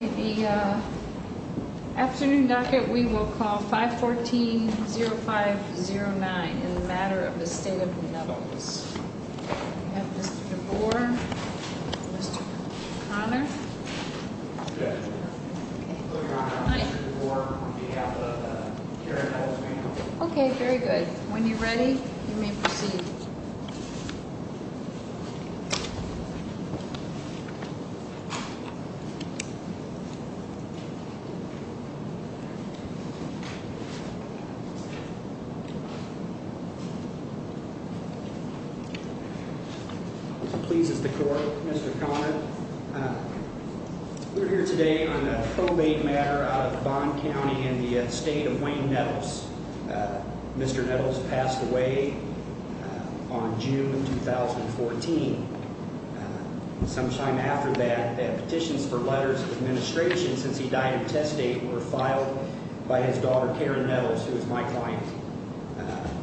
In the afternoon docket, we will call 514-0509 in the Matter of Estate of Nettles. We have Mr. DeBoer, Mr. Conner. Good. Hi. I'm Mr. DeBoer on behalf of the Karen Hall family. Okay, very good. When you're ready, you may proceed. Please, Mr. Conner. We're here today on the probate matter out of Bond County in the estate of Wayne Nettles. Mr. Nettles passed away on June 2014. Sometime after that, the petitions for letters of administration since he died of testate were filed by his daughter, Karen Nettles, who is my client.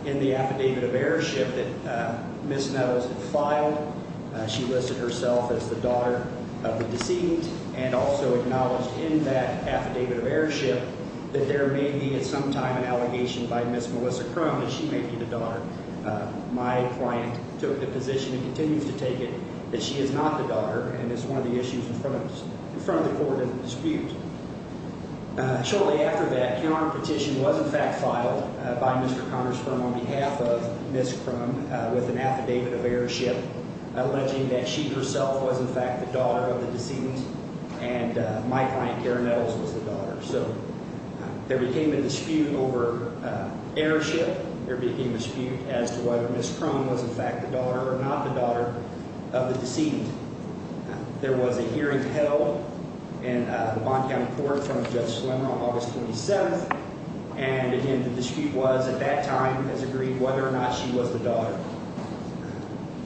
In the affidavit of heirship that Ms. Nettles had filed, she listed herself as the daughter of the decedent and also acknowledged in that affidavit of heirship that there may be at some time an allegation by Ms. Melissa Crone that she may be the daughter. My client took the position and continues to take it that she is not the daughter, and it's one of the issues in front of the court of dispute. Shortly after that, a petition was in fact filed by Mr. Conner's firm on behalf of Ms. Crone with an affidavit of heirship alleging that she herself was in fact the daughter of the decedent, and my client, Karen Nettles, was the daughter. So there became a dispute over heirship. There became a dispute as to whether Ms. Crone was in fact the daughter or not the daughter of the decedent. There was a hearing held in the Bond County Court from Judge Slemmer on August 27, and, again, the dispute was at that time as agreed whether or not she was the daughter.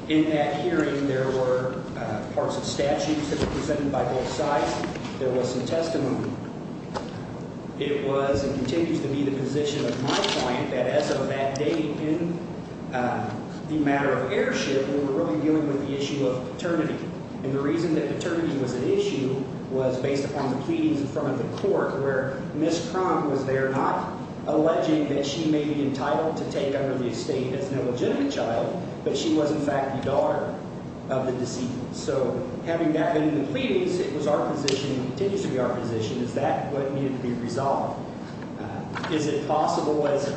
In that hearing, there were parts of statutes that were presented by both sides. There was some testimony. It was and continues to be the position of my client that as of that date in the matter of heirship, we were really dealing with the issue of paternity, and the reason that paternity was an issue was based upon the pleadings in front of the court where Ms. Crone was there not alleging that she may be entitled to take under the estate as an illegitimate child, but she was in fact the daughter of the decedent. So having that in the pleadings, it was our position and continues to be our position. Is that what needed to be resolved? Is it possible as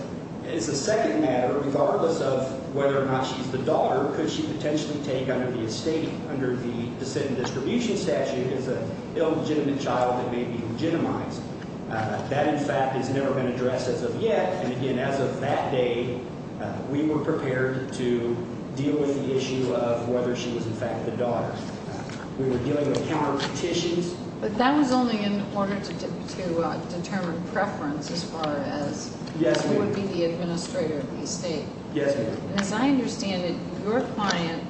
a second matter, regardless of whether or not she's the daughter, could she potentially take under the estate under the decedent distribution statute as an illegitimate child that may be legitimized? That, in fact, has never been addressed as of yet, and, again, as of that day, we were prepared to deal with the issue of whether she was in fact the daughter. We were dealing with counterpetitions. But that was only in order to determine preference as far as who would be the administrator of the estate. Yes, ma'am. And as I understand it, your client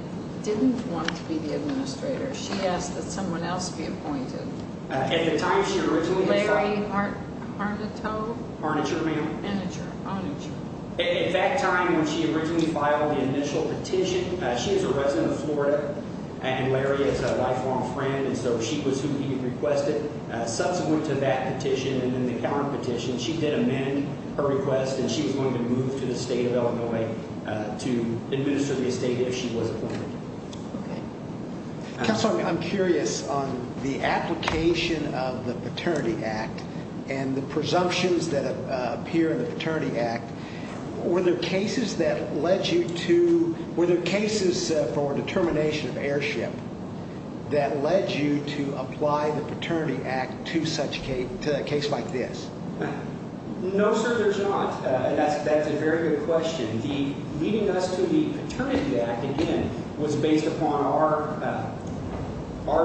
didn't want to be the administrator. She asked that someone else be appointed. At the time, she originally was Larry Harnito. Harniture, ma'am. Harniture. Harniture. At that time when she originally filed the initial petition, she is a resident of Florida, and Larry is a lifelong friend, and so she was who he requested. Subsequent to that petition and then the counterpetition, she did amend her request, and she was going to move to the state of Illinois to administer the estate if she was appointed. Okay. Counselor, I'm curious on the application of the Paternity Act and the presumptions that appear in the Paternity Act. Were there cases for determination of heirship that led you to apply the Paternity Act to a case like this? No, sir, there's not. That's a very good question. The leading us to the Paternity Act, again, was based upon our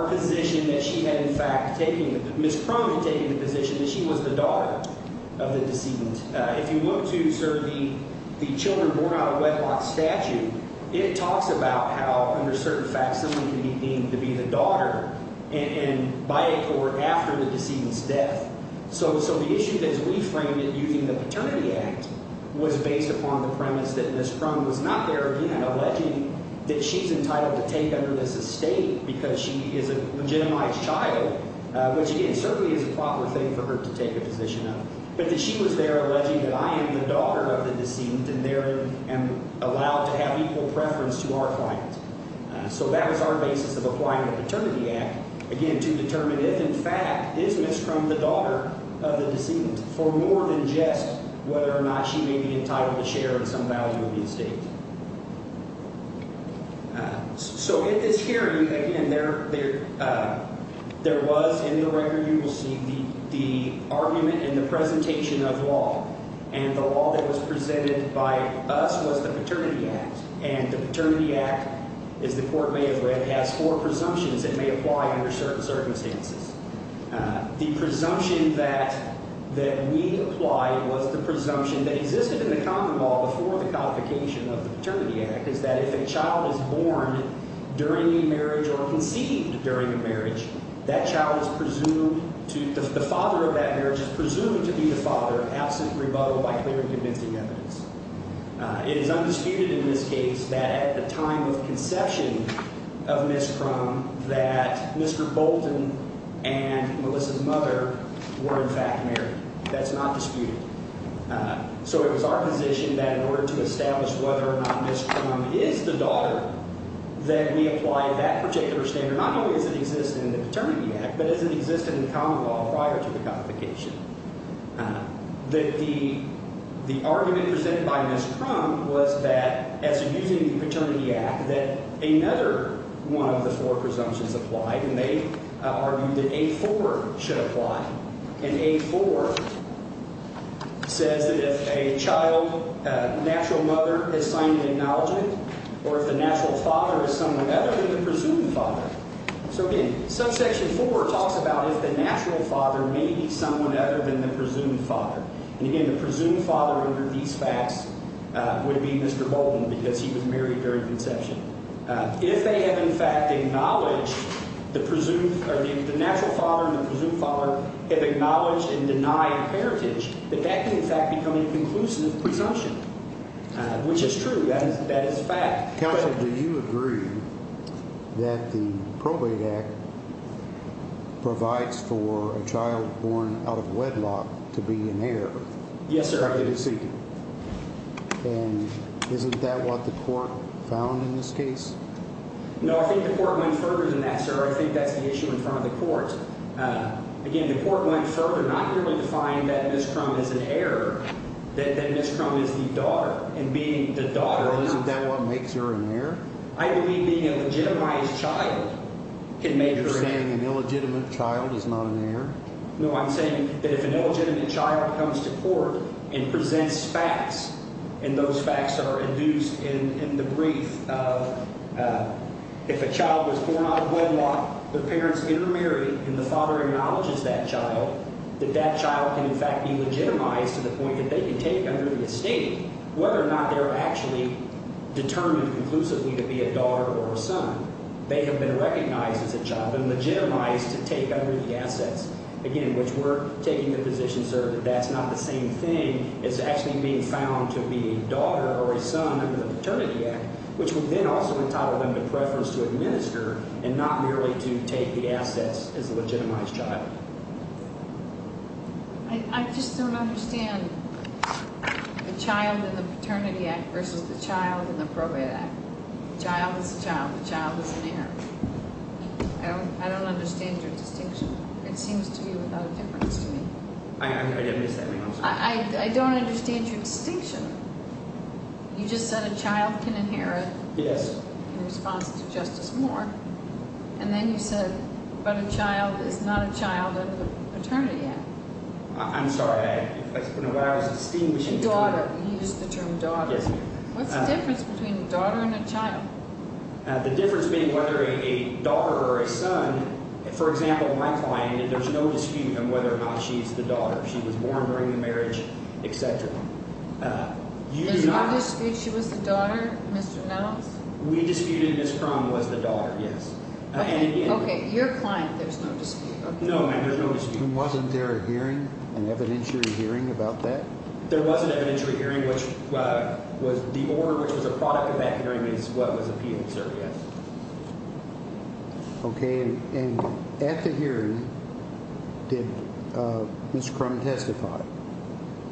position that she had in fact taken, Ms. Croman taking the position that she was the daughter of the decedent. If you look to, sir, the children born out of wedlock statute, it talks about how under certain facts someone can be deemed to be the daughter and by a court after the decedent's death. So the issue as we framed it using the Paternity Act was based upon the premise that Ms. Croman was not there, again, alleging that she's entitled to take under this estate because she is a legitimized child, which, again, certainly is a proper thing for her to take a position of, but that she was there alleging that I am the daughter of the decedent and there I am allowed to have equal preference to our client. So that was our basis of applying the Paternity Act, again, to determine if, in fact, is Ms. Croman the daughter of the decedent for more than just whether or not she may be entitled to share in some value of the estate. So in this hearing, again, there was, in the record you will see, the argument and the presentation of law, and the law that was presented by us was the Paternity Act, and the Paternity Act, as the court may have read, has four presumptions that may apply under certain circumstances. The presumption that we applied was the presumption that existed in the common law before the codification of the Paternity Act, is that if a child is born during a marriage or conceived during a marriage, that child is presumed to – the father of that marriage is presumed to be the father, absent rebuttal by clear and convincing evidence. It is undisputed in this case that at the time of conception of Ms. Crum, that Mr. Bolton and Melissa's mother were, in fact, married. That's not disputed. So it was our position that in order to establish whether or not Ms. Crum is the daughter, that we apply that particular standard, not only does it exist in the Paternity Act, but it existed in the common law prior to the codification. The argument presented by Ms. Crum was that, as using the Paternity Act, that another one of the four presumptions applied, and they argued that A-4 should apply. And A-4 says that if a child, natural mother, is signed and acknowledged, or if the natural father is someone other than the presumed father. So, again, subsection 4 talks about if the natural father may be someone other than the presumed father. And, again, the presumed father under these facts would be Mr. Bolton because he was married during conception. If they have, in fact, acknowledged the presumed – or if the natural father and the presumed father have acknowledged and denied heritage, then that can, in fact, become a conclusive presumption, which is true. That is a fact. Counsel, do you agree that the Probate Act provides for a child born out of wedlock to be an heir? Yes, sir. And isn't that what the court found in this case? No, I think the court went further than that, sir. I think that's the issue in front of the court. Again, the court went further not merely to find that Ms. Crum is an heir, that Ms. Crum is the daughter. Well, isn't that what makes her an heir? I believe being a legitimized child can make her an heir. You're saying an illegitimate child is not an heir? No, I'm saying that if an illegitimate child comes to court and presents facts, and those facts are induced in the brief of if a child was born out of wedlock, the parents intermarry, and the father acknowledges that child, that that child can, in fact, be legitimized to the point that they can take under the estate, whether or not they're actually determined conclusively to be a daughter or a son. They have been recognized as a child and legitimized to take under the assets. Again, which we're taking the position, sir, that that's not the same thing as actually being found to be a daughter or a son under the Paternity Act, which would then also entitle them to preference to administer and not merely to take the assets as a legitimized child. I just don't understand the Child in the Paternity Act versus the Child in the Probate Act. The child is a child. The child is an heir. I don't understand your distinction. It seems to me without a difference to me. I didn't miss that. Hang on a second. I don't understand your distinction. You just said a child can inherit. Yes. In response to Justice Moore. And then you said, but a child is not a child under the Paternity Act. I'm sorry. I don't know what I was distinguishing. Daughter. You used the term daughter. Yes. What's the difference between a daughter and a child? The difference being whether a daughter or a son – for example, my client, there's no dispute on whether or not she's the daughter. She was born during the marriage, et cetera. There's no dispute she was the daughter, Mr. Reynolds? We disputed Ms. Crum was the daughter, yes. Okay. Your client, there's no dispute. No, ma'am, there's no dispute. Wasn't there a hearing, an evidentiary hearing about that? There was an evidentiary hearing. The order which was a product of that hearing is what was appealed, sir, yes. Okay. And at the hearing, did Ms. Crum testify?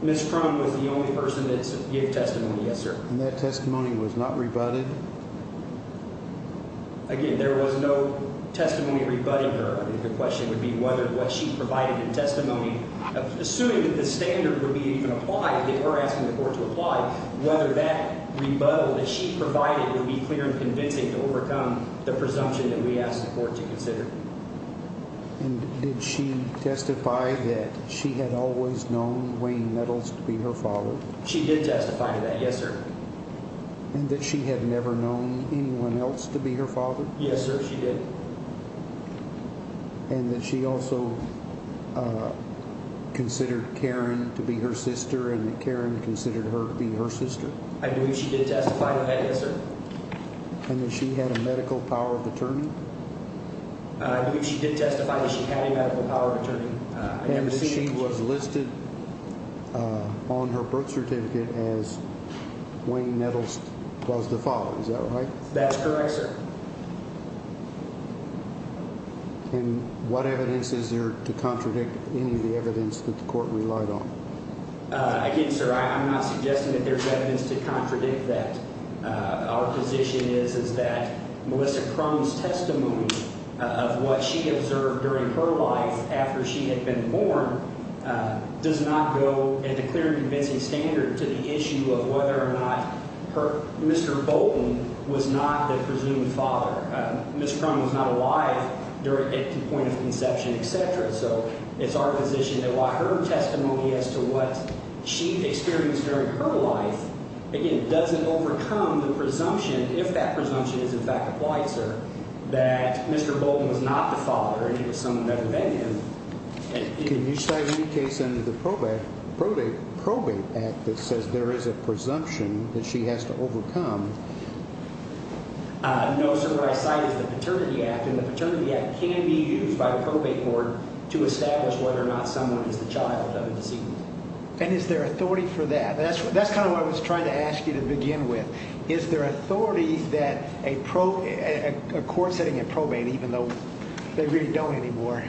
Ms. Crum was the only person that gave testimony, yes, sir. And that testimony was not rebutted? Again, there was no testimony rebutting her. The question would be whether what she provided in testimony, assuming that the standard would be even applied if they were asking the court to apply, whether that rebuttal that she provided would be clear and convincing to overcome the presumption that we asked the court to consider. And did she testify that she had always known Wayne Meadows to be her father? She did testify to that, yes, sir. And that she had never known anyone else to be her father? Yes, sir, she did. And that she also considered Karen to be her sister and that Karen considered her to be her sister? I believe she did testify to that, yes, sir. And that she had a medical power of attorney? I believe she did testify that she had a medical power of attorney. And that she was listed on her birth certificate as Wayne Meadows was the father, is that right? That's correct, sir. And what evidence is there to contradict any of the evidence that the court relied on? Again, sir, I'm not suggesting that there's evidence to contradict that. Our position is that Melissa Crum's testimony of what she observed during her life after she had been born does not go into clear and convincing standard to the issue of whether or not Mr. Bolton was not the presumed father. Ms. Crum was not alive at the point of conception, et cetera. So it's our position that while her testimony as to what she experienced during her life, again, doesn't overcome the presumption, if that presumption is in fact applied, sir, that Mr. Bolton was not the father and it was someone other than him. Can you cite any case under the Probate Act that says there is a presumption that she has to overcome? No, sir. What I cite is the Paternity Act, and the Paternity Act can be used by a probate court to establish whether or not someone is the child of a deceased. And is there authority for that? That's kind of what I was trying to ask you to begin with. Is there authority that a court sitting in probate, even though they really don't anymore,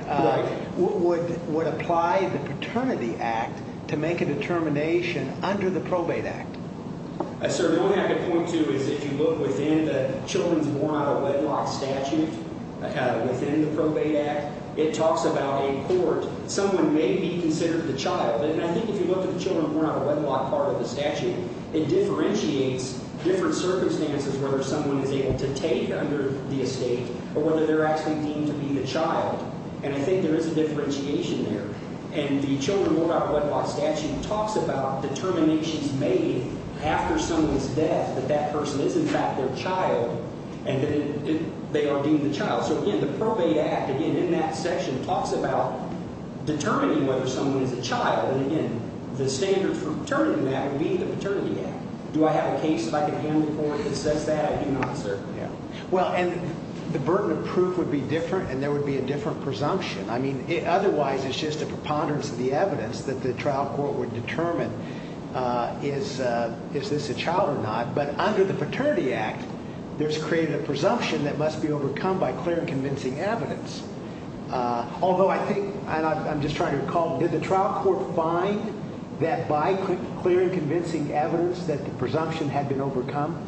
would apply the Paternity Act to make a determination under the Probate Act? Sir, the only thing I can point to is if you look within the children's born out of wedlock statute, within the Probate Act, it talks about a court. Someone may be considered the child. And I think if you look at the children born out of wedlock part of the statute, it differentiates different circumstances whether someone is able to take under the estate or whether they're actually deemed to be the child. And I think there is a differentiation there. And the children born out of wedlock statute talks about determinations made after someone's death that that person is in fact their child and that they are deemed the child. So, again, the Probate Act, again, in that section talks about determining whether someone is a child. And, again, the standard for determining that would be the Paternity Act. Do I have a case that I can handle for it that says that? I do not, sir. Well, and the burden of proof would be different, and there would be a different presumption. I mean, otherwise it's just a preponderance of the evidence that the trial court would determine is this a child or not. But under the Paternity Act, there's created a presumption that must be overcome by clear and convincing evidence. Although I think, and I'm just trying to recall, did the trial court find that by clear and convincing evidence that the presumption had been overcome?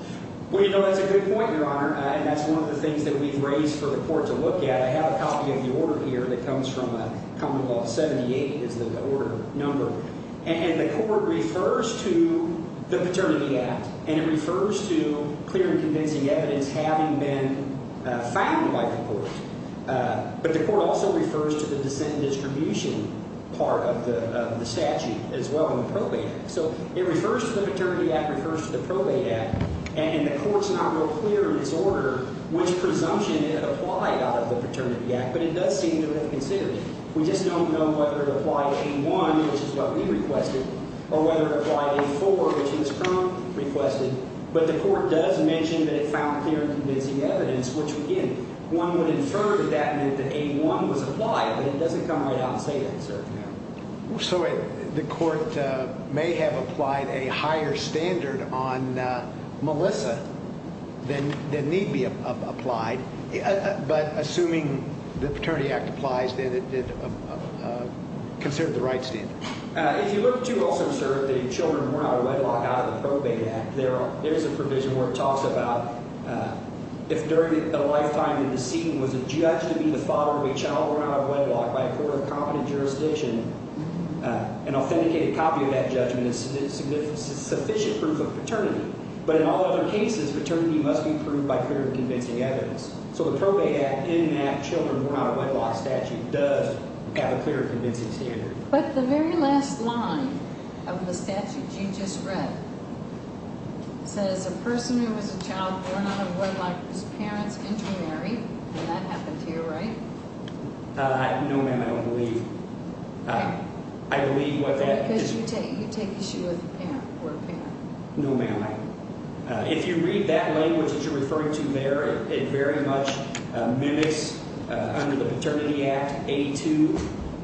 Well, you know, that's a good point, Your Honor, and that's one of the things that we've raised for the court to look at. I have a copy of the order here that comes from Common Law 78 is the order number. And the court refers to the Paternity Act, and it refers to clear and convincing evidence having been found by the court. But the court also refers to the dissent and distribution part of the statute as well in the Probate Act. So it refers to the Paternity Act, refers to the Probate Act, and the court's not real clear in this order which presumption it applied out of the Paternity Act, but it does seem to have considered it. We just don't know whether it applied A-1, which is what we requested, or whether it applied A-4, which is what was requested. But the court does mention that it found clear and convincing evidence, which, again, one would infer that that meant that A-1 was applied, but it doesn't come right out and say that, sir. So the court may have applied a higher standard on Melissa than need be applied. But assuming the Paternity Act applies, then it did consider the right standard. If you look to also assert that your children were not wedlocked out of the Probate Act, there is a provision where it talks about if during a lifetime the decedent was a judge to be the father of a child who were not wedlocked by a court of competent jurisdiction, an authenticated copy of that judgment is sufficient proof of paternity. But in all other cases, paternity must be proved by clear and convincing evidence. So the Probate Act in that children were not wedlocked statute does have a clear and convincing standard. But the very last line of the statute you just read says a person who was a child born out of wedlock was parents intermarried. Did that happen to you, right? No, ma'am, I don't believe. I believe what that is. So you take issue with parent or parent? No, ma'am. If you read that language that you're referring to there, it very much mimics under the Paternity Act 82,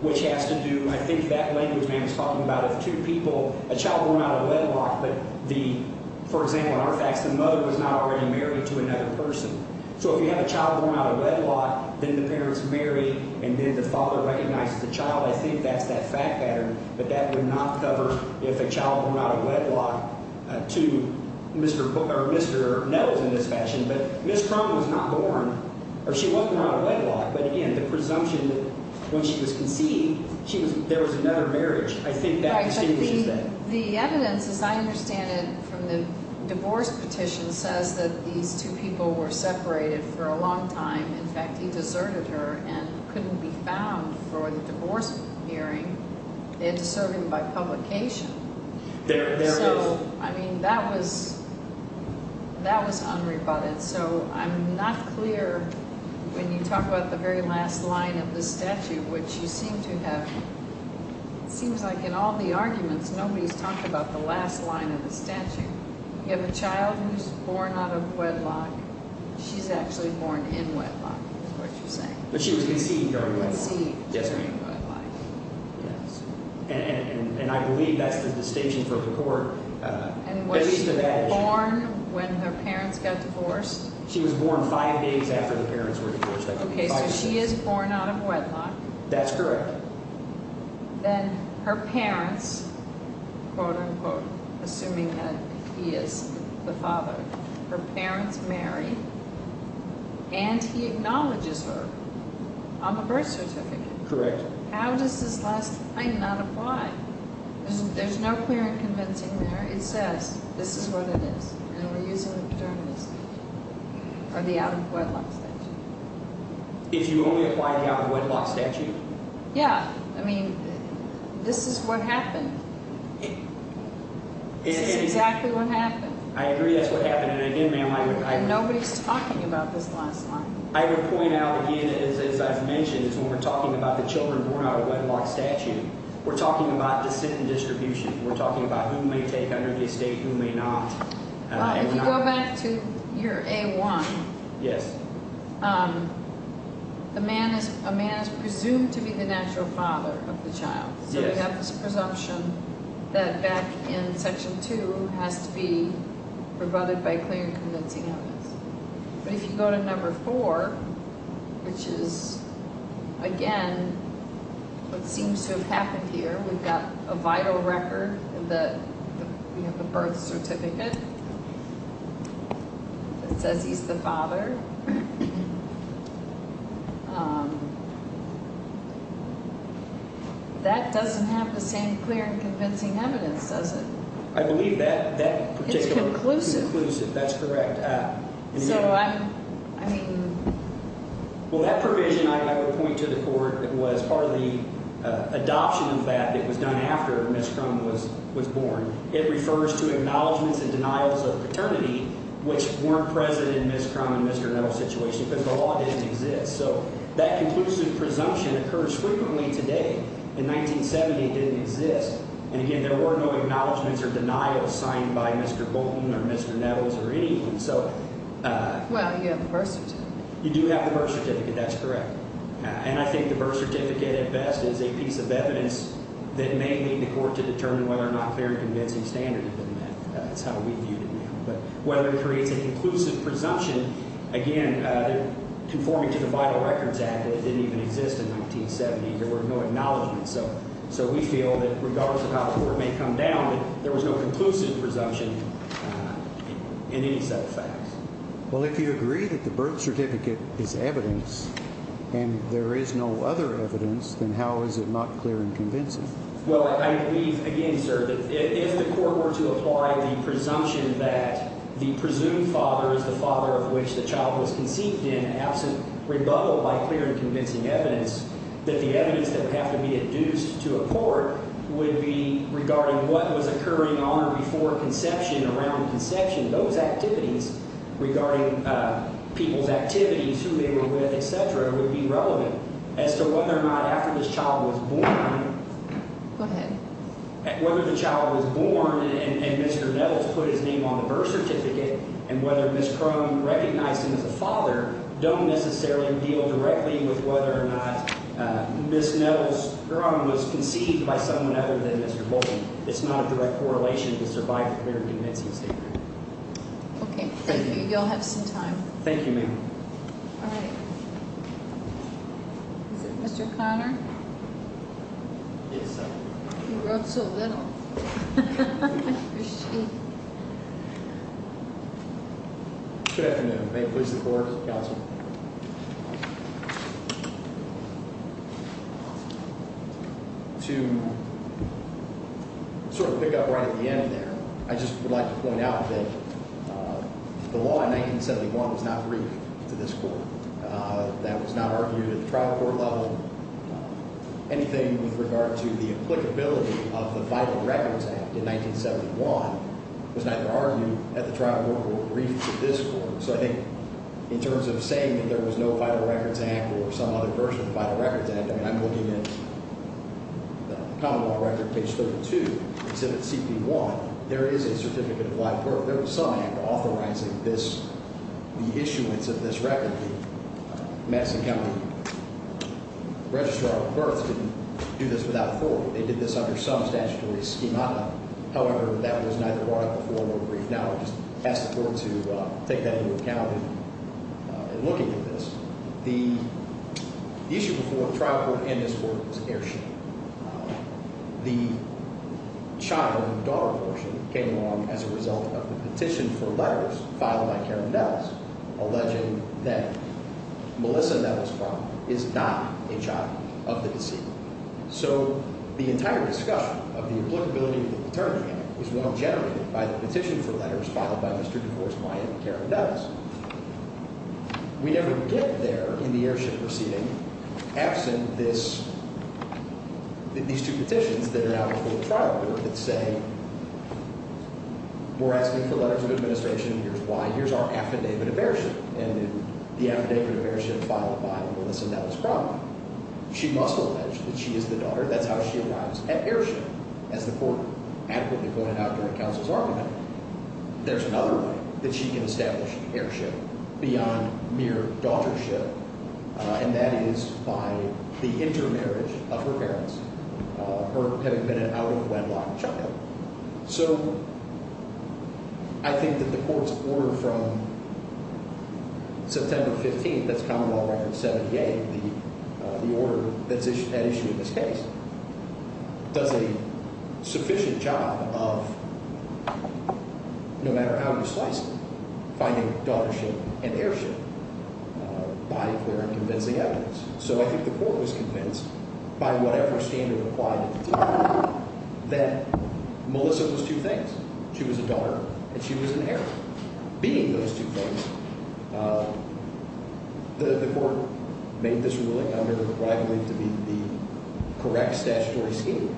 which has to do – I think that language, ma'am, is talking about if two people – a child born out of wedlock, but the – for example, in our facts, the mother was not already married to another person. So if you have a child born out of wedlock, then the parents marry, and then the father recognizes the child, I think that's that fact pattern. But that would not cover if a child born out of wedlock to Mr. – or Mr. knows in this fashion. But Ms. Crum was not born – or she wasn't born out of wedlock. But again, the presumption that when she was conceived, she was – there was another marriage, I think that distinguishes that. The evidence, as I understand it from the divorce petition, says that these two people were separated for a long time. In fact, he deserted her and couldn't be found for the divorce hearing. They had to serve him by publication. There it is. So, I mean, that was unrebutted. So I'm not clear when you talk about the very last line of the statute, which you seem to have – it seems like in all the arguments, nobody's talked about the last line of the statute. You have a child who's born out of wedlock. She's actually born in wedlock is what you're saying. But she was conceived during wedlock. Conceived during wedlock. Yes, ma'am. Yes. And I believe that's the distinction for the court. And was she born when her parents got divorced? She was born five days after the parents were divorced. Okay, so she is born out of wedlock. That's correct. Then her parents, quote, unquote, assuming that he is the father, her parents marry, and he acknowledges her on the birth certificate. Correct. How does this last line not apply? There's no clear and convincing there. It says this is what it is, and we're using the paternity statute or the out-of-wedlock statute. If you only apply the out-of-wedlock statute? Yeah. I mean, this is what happened. This is exactly what happened. I agree that's what happened. And again, ma'am, I agree. And nobody's talking about this last line. I would point out, again, as I've mentioned, is when we're talking about the children born out of wedlock statute, we're talking about descent and distribution. We're talking about who may take under the estate, who may not. If you go back to year A-1, a man is presumed to be the natural father of the child. So we have this presumption that back in Section 2 has to be rebutted by clear and convincing evidence. But if you go to number 4, which is, again, what seems to have happened here, we've got a vital record. We have the birth certificate that says he's the father. That doesn't have the same clear and convincing evidence, does it? I believe that particular conclusion, that's correct. So I mean – Well, that provision, I would point to the court, was part of the adoption of that that was done after Ms. Crum was born. It refers to acknowledgments and denials of paternity, which weren't present in Ms. Crum and Mr. Nettles' situation because the law didn't exist. So that conclusive presumption occurs frequently today. In 1970, it didn't exist. And, again, there were no acknowledgments or denials signed by Mr. Bolton or Mr. Nettles or anyone. So – Well, you have the birth certificate. You do have the birth certificate. That's correct. And I think the birth certificate, at best, is a piece of evidence that may lead the court to determine whether or not clear and convincing standard had been met. That's how we view it now. But whether it creates an inclusive presumption, again, conforming to the Vital Records Act that didn't even exist in 1970, there were no acknowledgments. So we feel that, regardless of how the court may come down, that there was no conclusive presumption in any set of facts. Well, if you agree that the birth certificate is evidence and there is no other evidence, then how is it not clear and convincing? Well, I believe, again, sir, that if the court were to apply the presumption that the presumed father is the father of which the child was conceived in absent rebuttal by clear and convincing evidence, that the evidence that would have to be induced to a court would be regarding what was occurring on or before conception, around conception. Those activities regarding people's activities, who they were with, et cetera, would be relevant as to whether or not after this child was born. Go ahead. Whether the child was born and Mr. Nettles put his name on the birth certificate and whether Ms. Crone recognized him as a father don't necessarily deal directly with whether or not Ms. Nettles Crone was conceived by someone other than Mr. Bolton. It's not a direct correlation to survive a clear and convincing statement. Okay. Thank you. You'll have some time. Thank you, ma'am. All right. Is it Mr. Conner? Yes, ma'am. You wrote so little. I appreciate it. Good afternoon. May it please the court, counsel. To sort of pick up right at the end there, I just would like to point out that the law in 1971 was not briefed to this court. That was not argued at the trial court level. Anything with regard to the applicability of the Violent Records Act in 1971 was neither argued at the trial court or briefed to this court. So I think in terms of saying that there was no Violent Records Act or some other version of the Violent Records Act, I mean, I'm looking at the common law record, page 32. Instead of CP1, there is a certificate of live birth. There was some act authorizing this, the issuance of this record. The Madison County Registrar of Births didn't do this without a form. They did this under some statutory schemata. However, that was neither brought up before nor briefed. And now I'll just ask the court to take that into account in looking at this. The issue before the trial court and this court was airship. The child and daughter portion came along as a result of the petition for letters filed by Karen Nettles alleging that Melissa Nettles' father is not a child of the deceased. So the entire discussion of the applicability of the paternity act is one generated by the petition for letters filed by Mr. divorced by Karen Nettles. We never get there in the airship proceeding absent this, these two petitions that are out before the trial court that say we're asking for letters of administration. Here's why. Here's our affidavit of airship and the affidavit of airship filed by Melissa Nettles' father. She must allege that she is the daughter. That's how she arrives at airship. As the court adequately pointed out during counsel's argument, there's another way that she can establish airship beyond mere daughtership. And that is by the intermarriage of her parents, her having been an out-of-wedlock child. So I think that the court's order from September 15th, that's common law record 78, the order that's at issue in this case, does a sufficient job of, no matter how you slice it, finding daughtership and airship by clear and convincing evidence. So I think the court was convinced by whatever standard applied that Melissa was two things. She was a daughter and she was an heir. Being those two things, the court made this ruling under what I believe to be the correct statutory scheme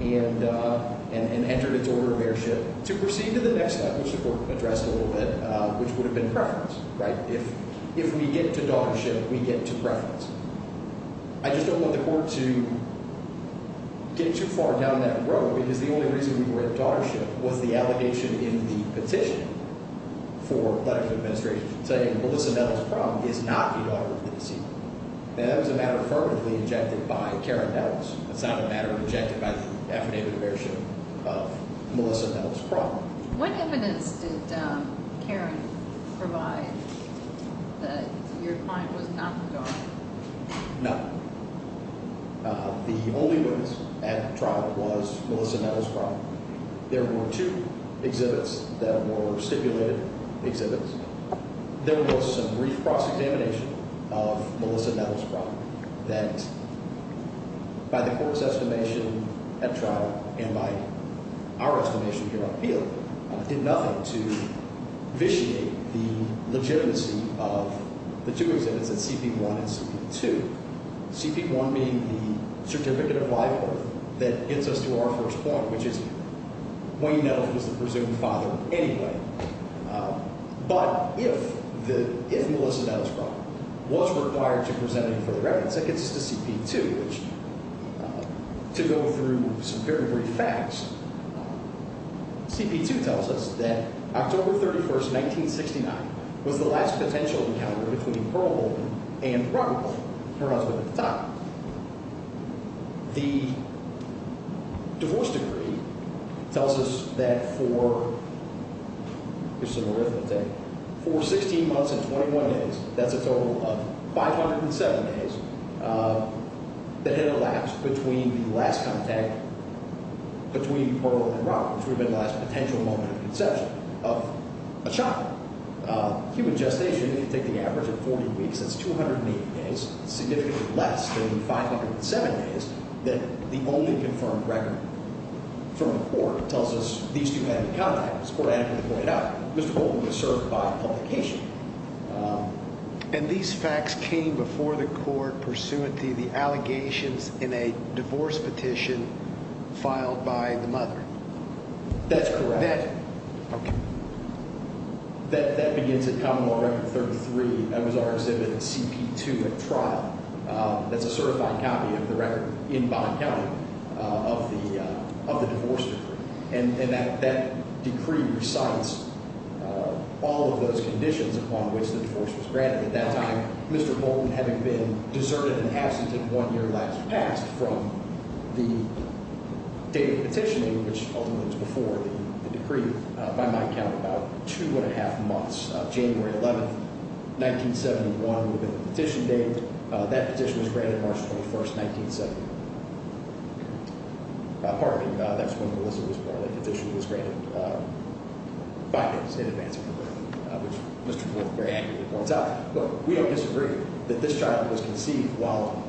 and entered its order of airship to proceed to the next step, which the court addressed a little bit, which would have been preference. If we get to daughtership, we get to preference. I just don't want the court to get too far down that road because the only reason we were at daughtership was the allegation in the petition for letter of administration saying Melissa Nettles' prom is not the daughter of the deceased. Now, that was a matter affirmatively injected by Karen Nettles. It's not a matter injected by the affidavit of airship of Melissa Nettles' prom. When evidence did Karen provide that your client was not the daughter? None. The only witness at trial was Melissa Nettles' prom. There were two exhibits that were stipulated exhibits. There was some brief cross-examination of Melissa Nettles' prom that, by the court's estimation at trial and by our estimation here on appeal, did nothing to vitiate the legitimacy of the two exhibits, the CP1 and CP2. CP1 being the certificate of life oath that gets us to our first point, which is Wayne Nettles was the presumed father anyway. But if Melissa Nettles' prom was required to present any further evidence, that gets us to CP2, which, to go through some very brief facts, CP2 tells us that October 31st, 1969 was the last potential encounter between Pearl Holden and Ronald, her husband at the time. The divorce decree tells us that for, here's some arithmetic, for 16 months and 21 days, that's a total of 507 days, that had elapsed between the last contact between Pearl and Ronald, which would have been the last potential moment of conception, of a child. Human gestation, if you take the average of 40 weeks, that's 280 days, significantly less than the 507 days that the only confirmed record from the court tells us these two had any contact. As the court adequately pointed out, Mr. Holden was served by publication. And these facts came before the court pursuant to the allegations in a divorce petition filed by the mother? That's correct. Now, that begins at Common Law Record 33. That was our exhibit at CP2 at trial. That's a certified copy of the record in Bond County of the divorce decree. And that decree recites all of those conditions upon which the divorce was granted at that time, Mr. Holden having been deserted and absent in one year last past from the date of the petitioning, which ultimately was before the decree. By my count, about two and a half months. January 11th, 1971 would have been the petition date. That petition was granted March 21st, 1970. Pardon me. That's when Melissa was born. That petition was granted five days in advance of her birth, which Mr. Holden very accurately points out. Look, we don't disagree that this child was conceived while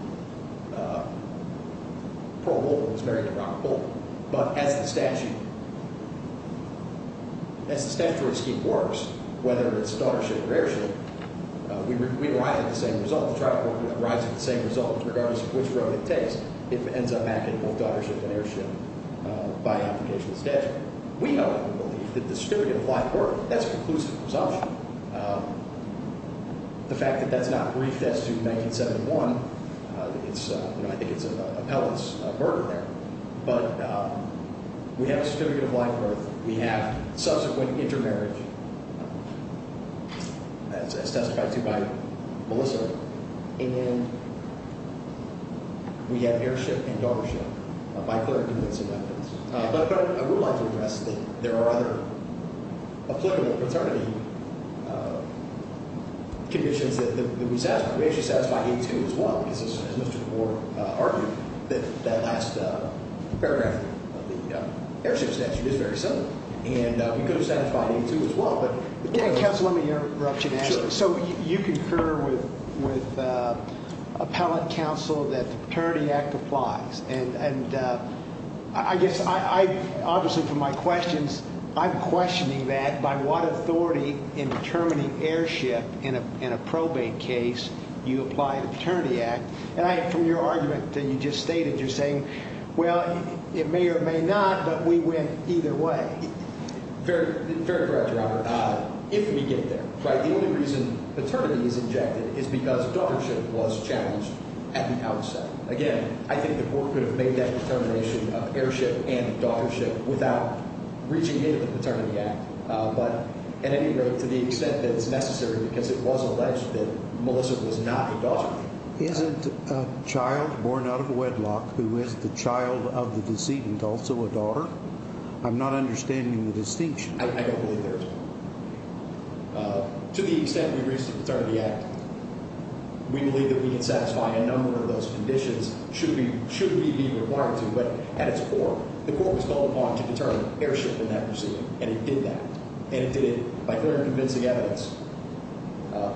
Pearl Holden was married to Robert Holden. But as the statute, as the statutory scheme works, whether it's daughtership or heirship, we arrive at the same result. The trial court arrives at the same result regardless of which road it takes. It ends up back in both daughtership and heirship by application of statute. We don't believe that the certificate of life or death, that's a conclusive presumption. The fact that that's not briefed as to 1971, I think it's an appellate murder there. But we have a certificate of life or death. We have subsequent intermarriage as testified to by Melissa. And we have heirship and daughtership by clear convincing evidence. But I would like to address that there are other applicable paternity conditions that we satisfy. We actually satisfy A2 as well because, as Mr. DeBoer argued, that last paragraph of the heirship statute is very similar. And we could have satisfied A2 as well. Counsel, let me interrupt you and ask. So you concur with appellate counsel that the Paternity Act applies. And I guess I obviously from my questions, I'm questioning that by what authority in determining heirship in a probate case you apply the Paternity Act. And from your argument that you just stated, you're saying, well, it may or it may not, but we win either way. Very correct, Robert. If we get there, right, the only reason paternity is injected is because daughtership was challenged at the outset. Again, I think the court could have made that determination of heirship and daughtership without reaching into the Paternity Act. But, in any event, to the extent that it's necessary because it was alleged that Melissa was not a daughter. Isn't a child born out of wedlock who is the child of the decedent also a daughter? I'm not understanding the distinction. I don't believe there is. To the extent we reach the Paternity Act, we believe that we can satisfy a number of those conditions should we be required to. But at its core, the court was called upon to determine heirship in that proceeding. And it did that. And it did it by clear and convincing evidence.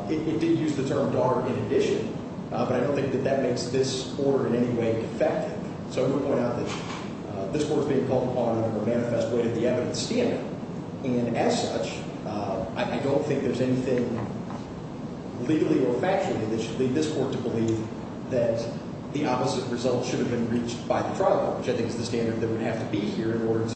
It did use the term daughter in addition. But I don't think that that makes this order in any way effective. So I'm going to point out that this court is being called upon in a manifest way to the evidence standard. And, as such, I don't think there's anything legally or factually that should lead this court to believe that the opposite result should have been reached by the trial court. Which I think is the standard that would have to be here in order to.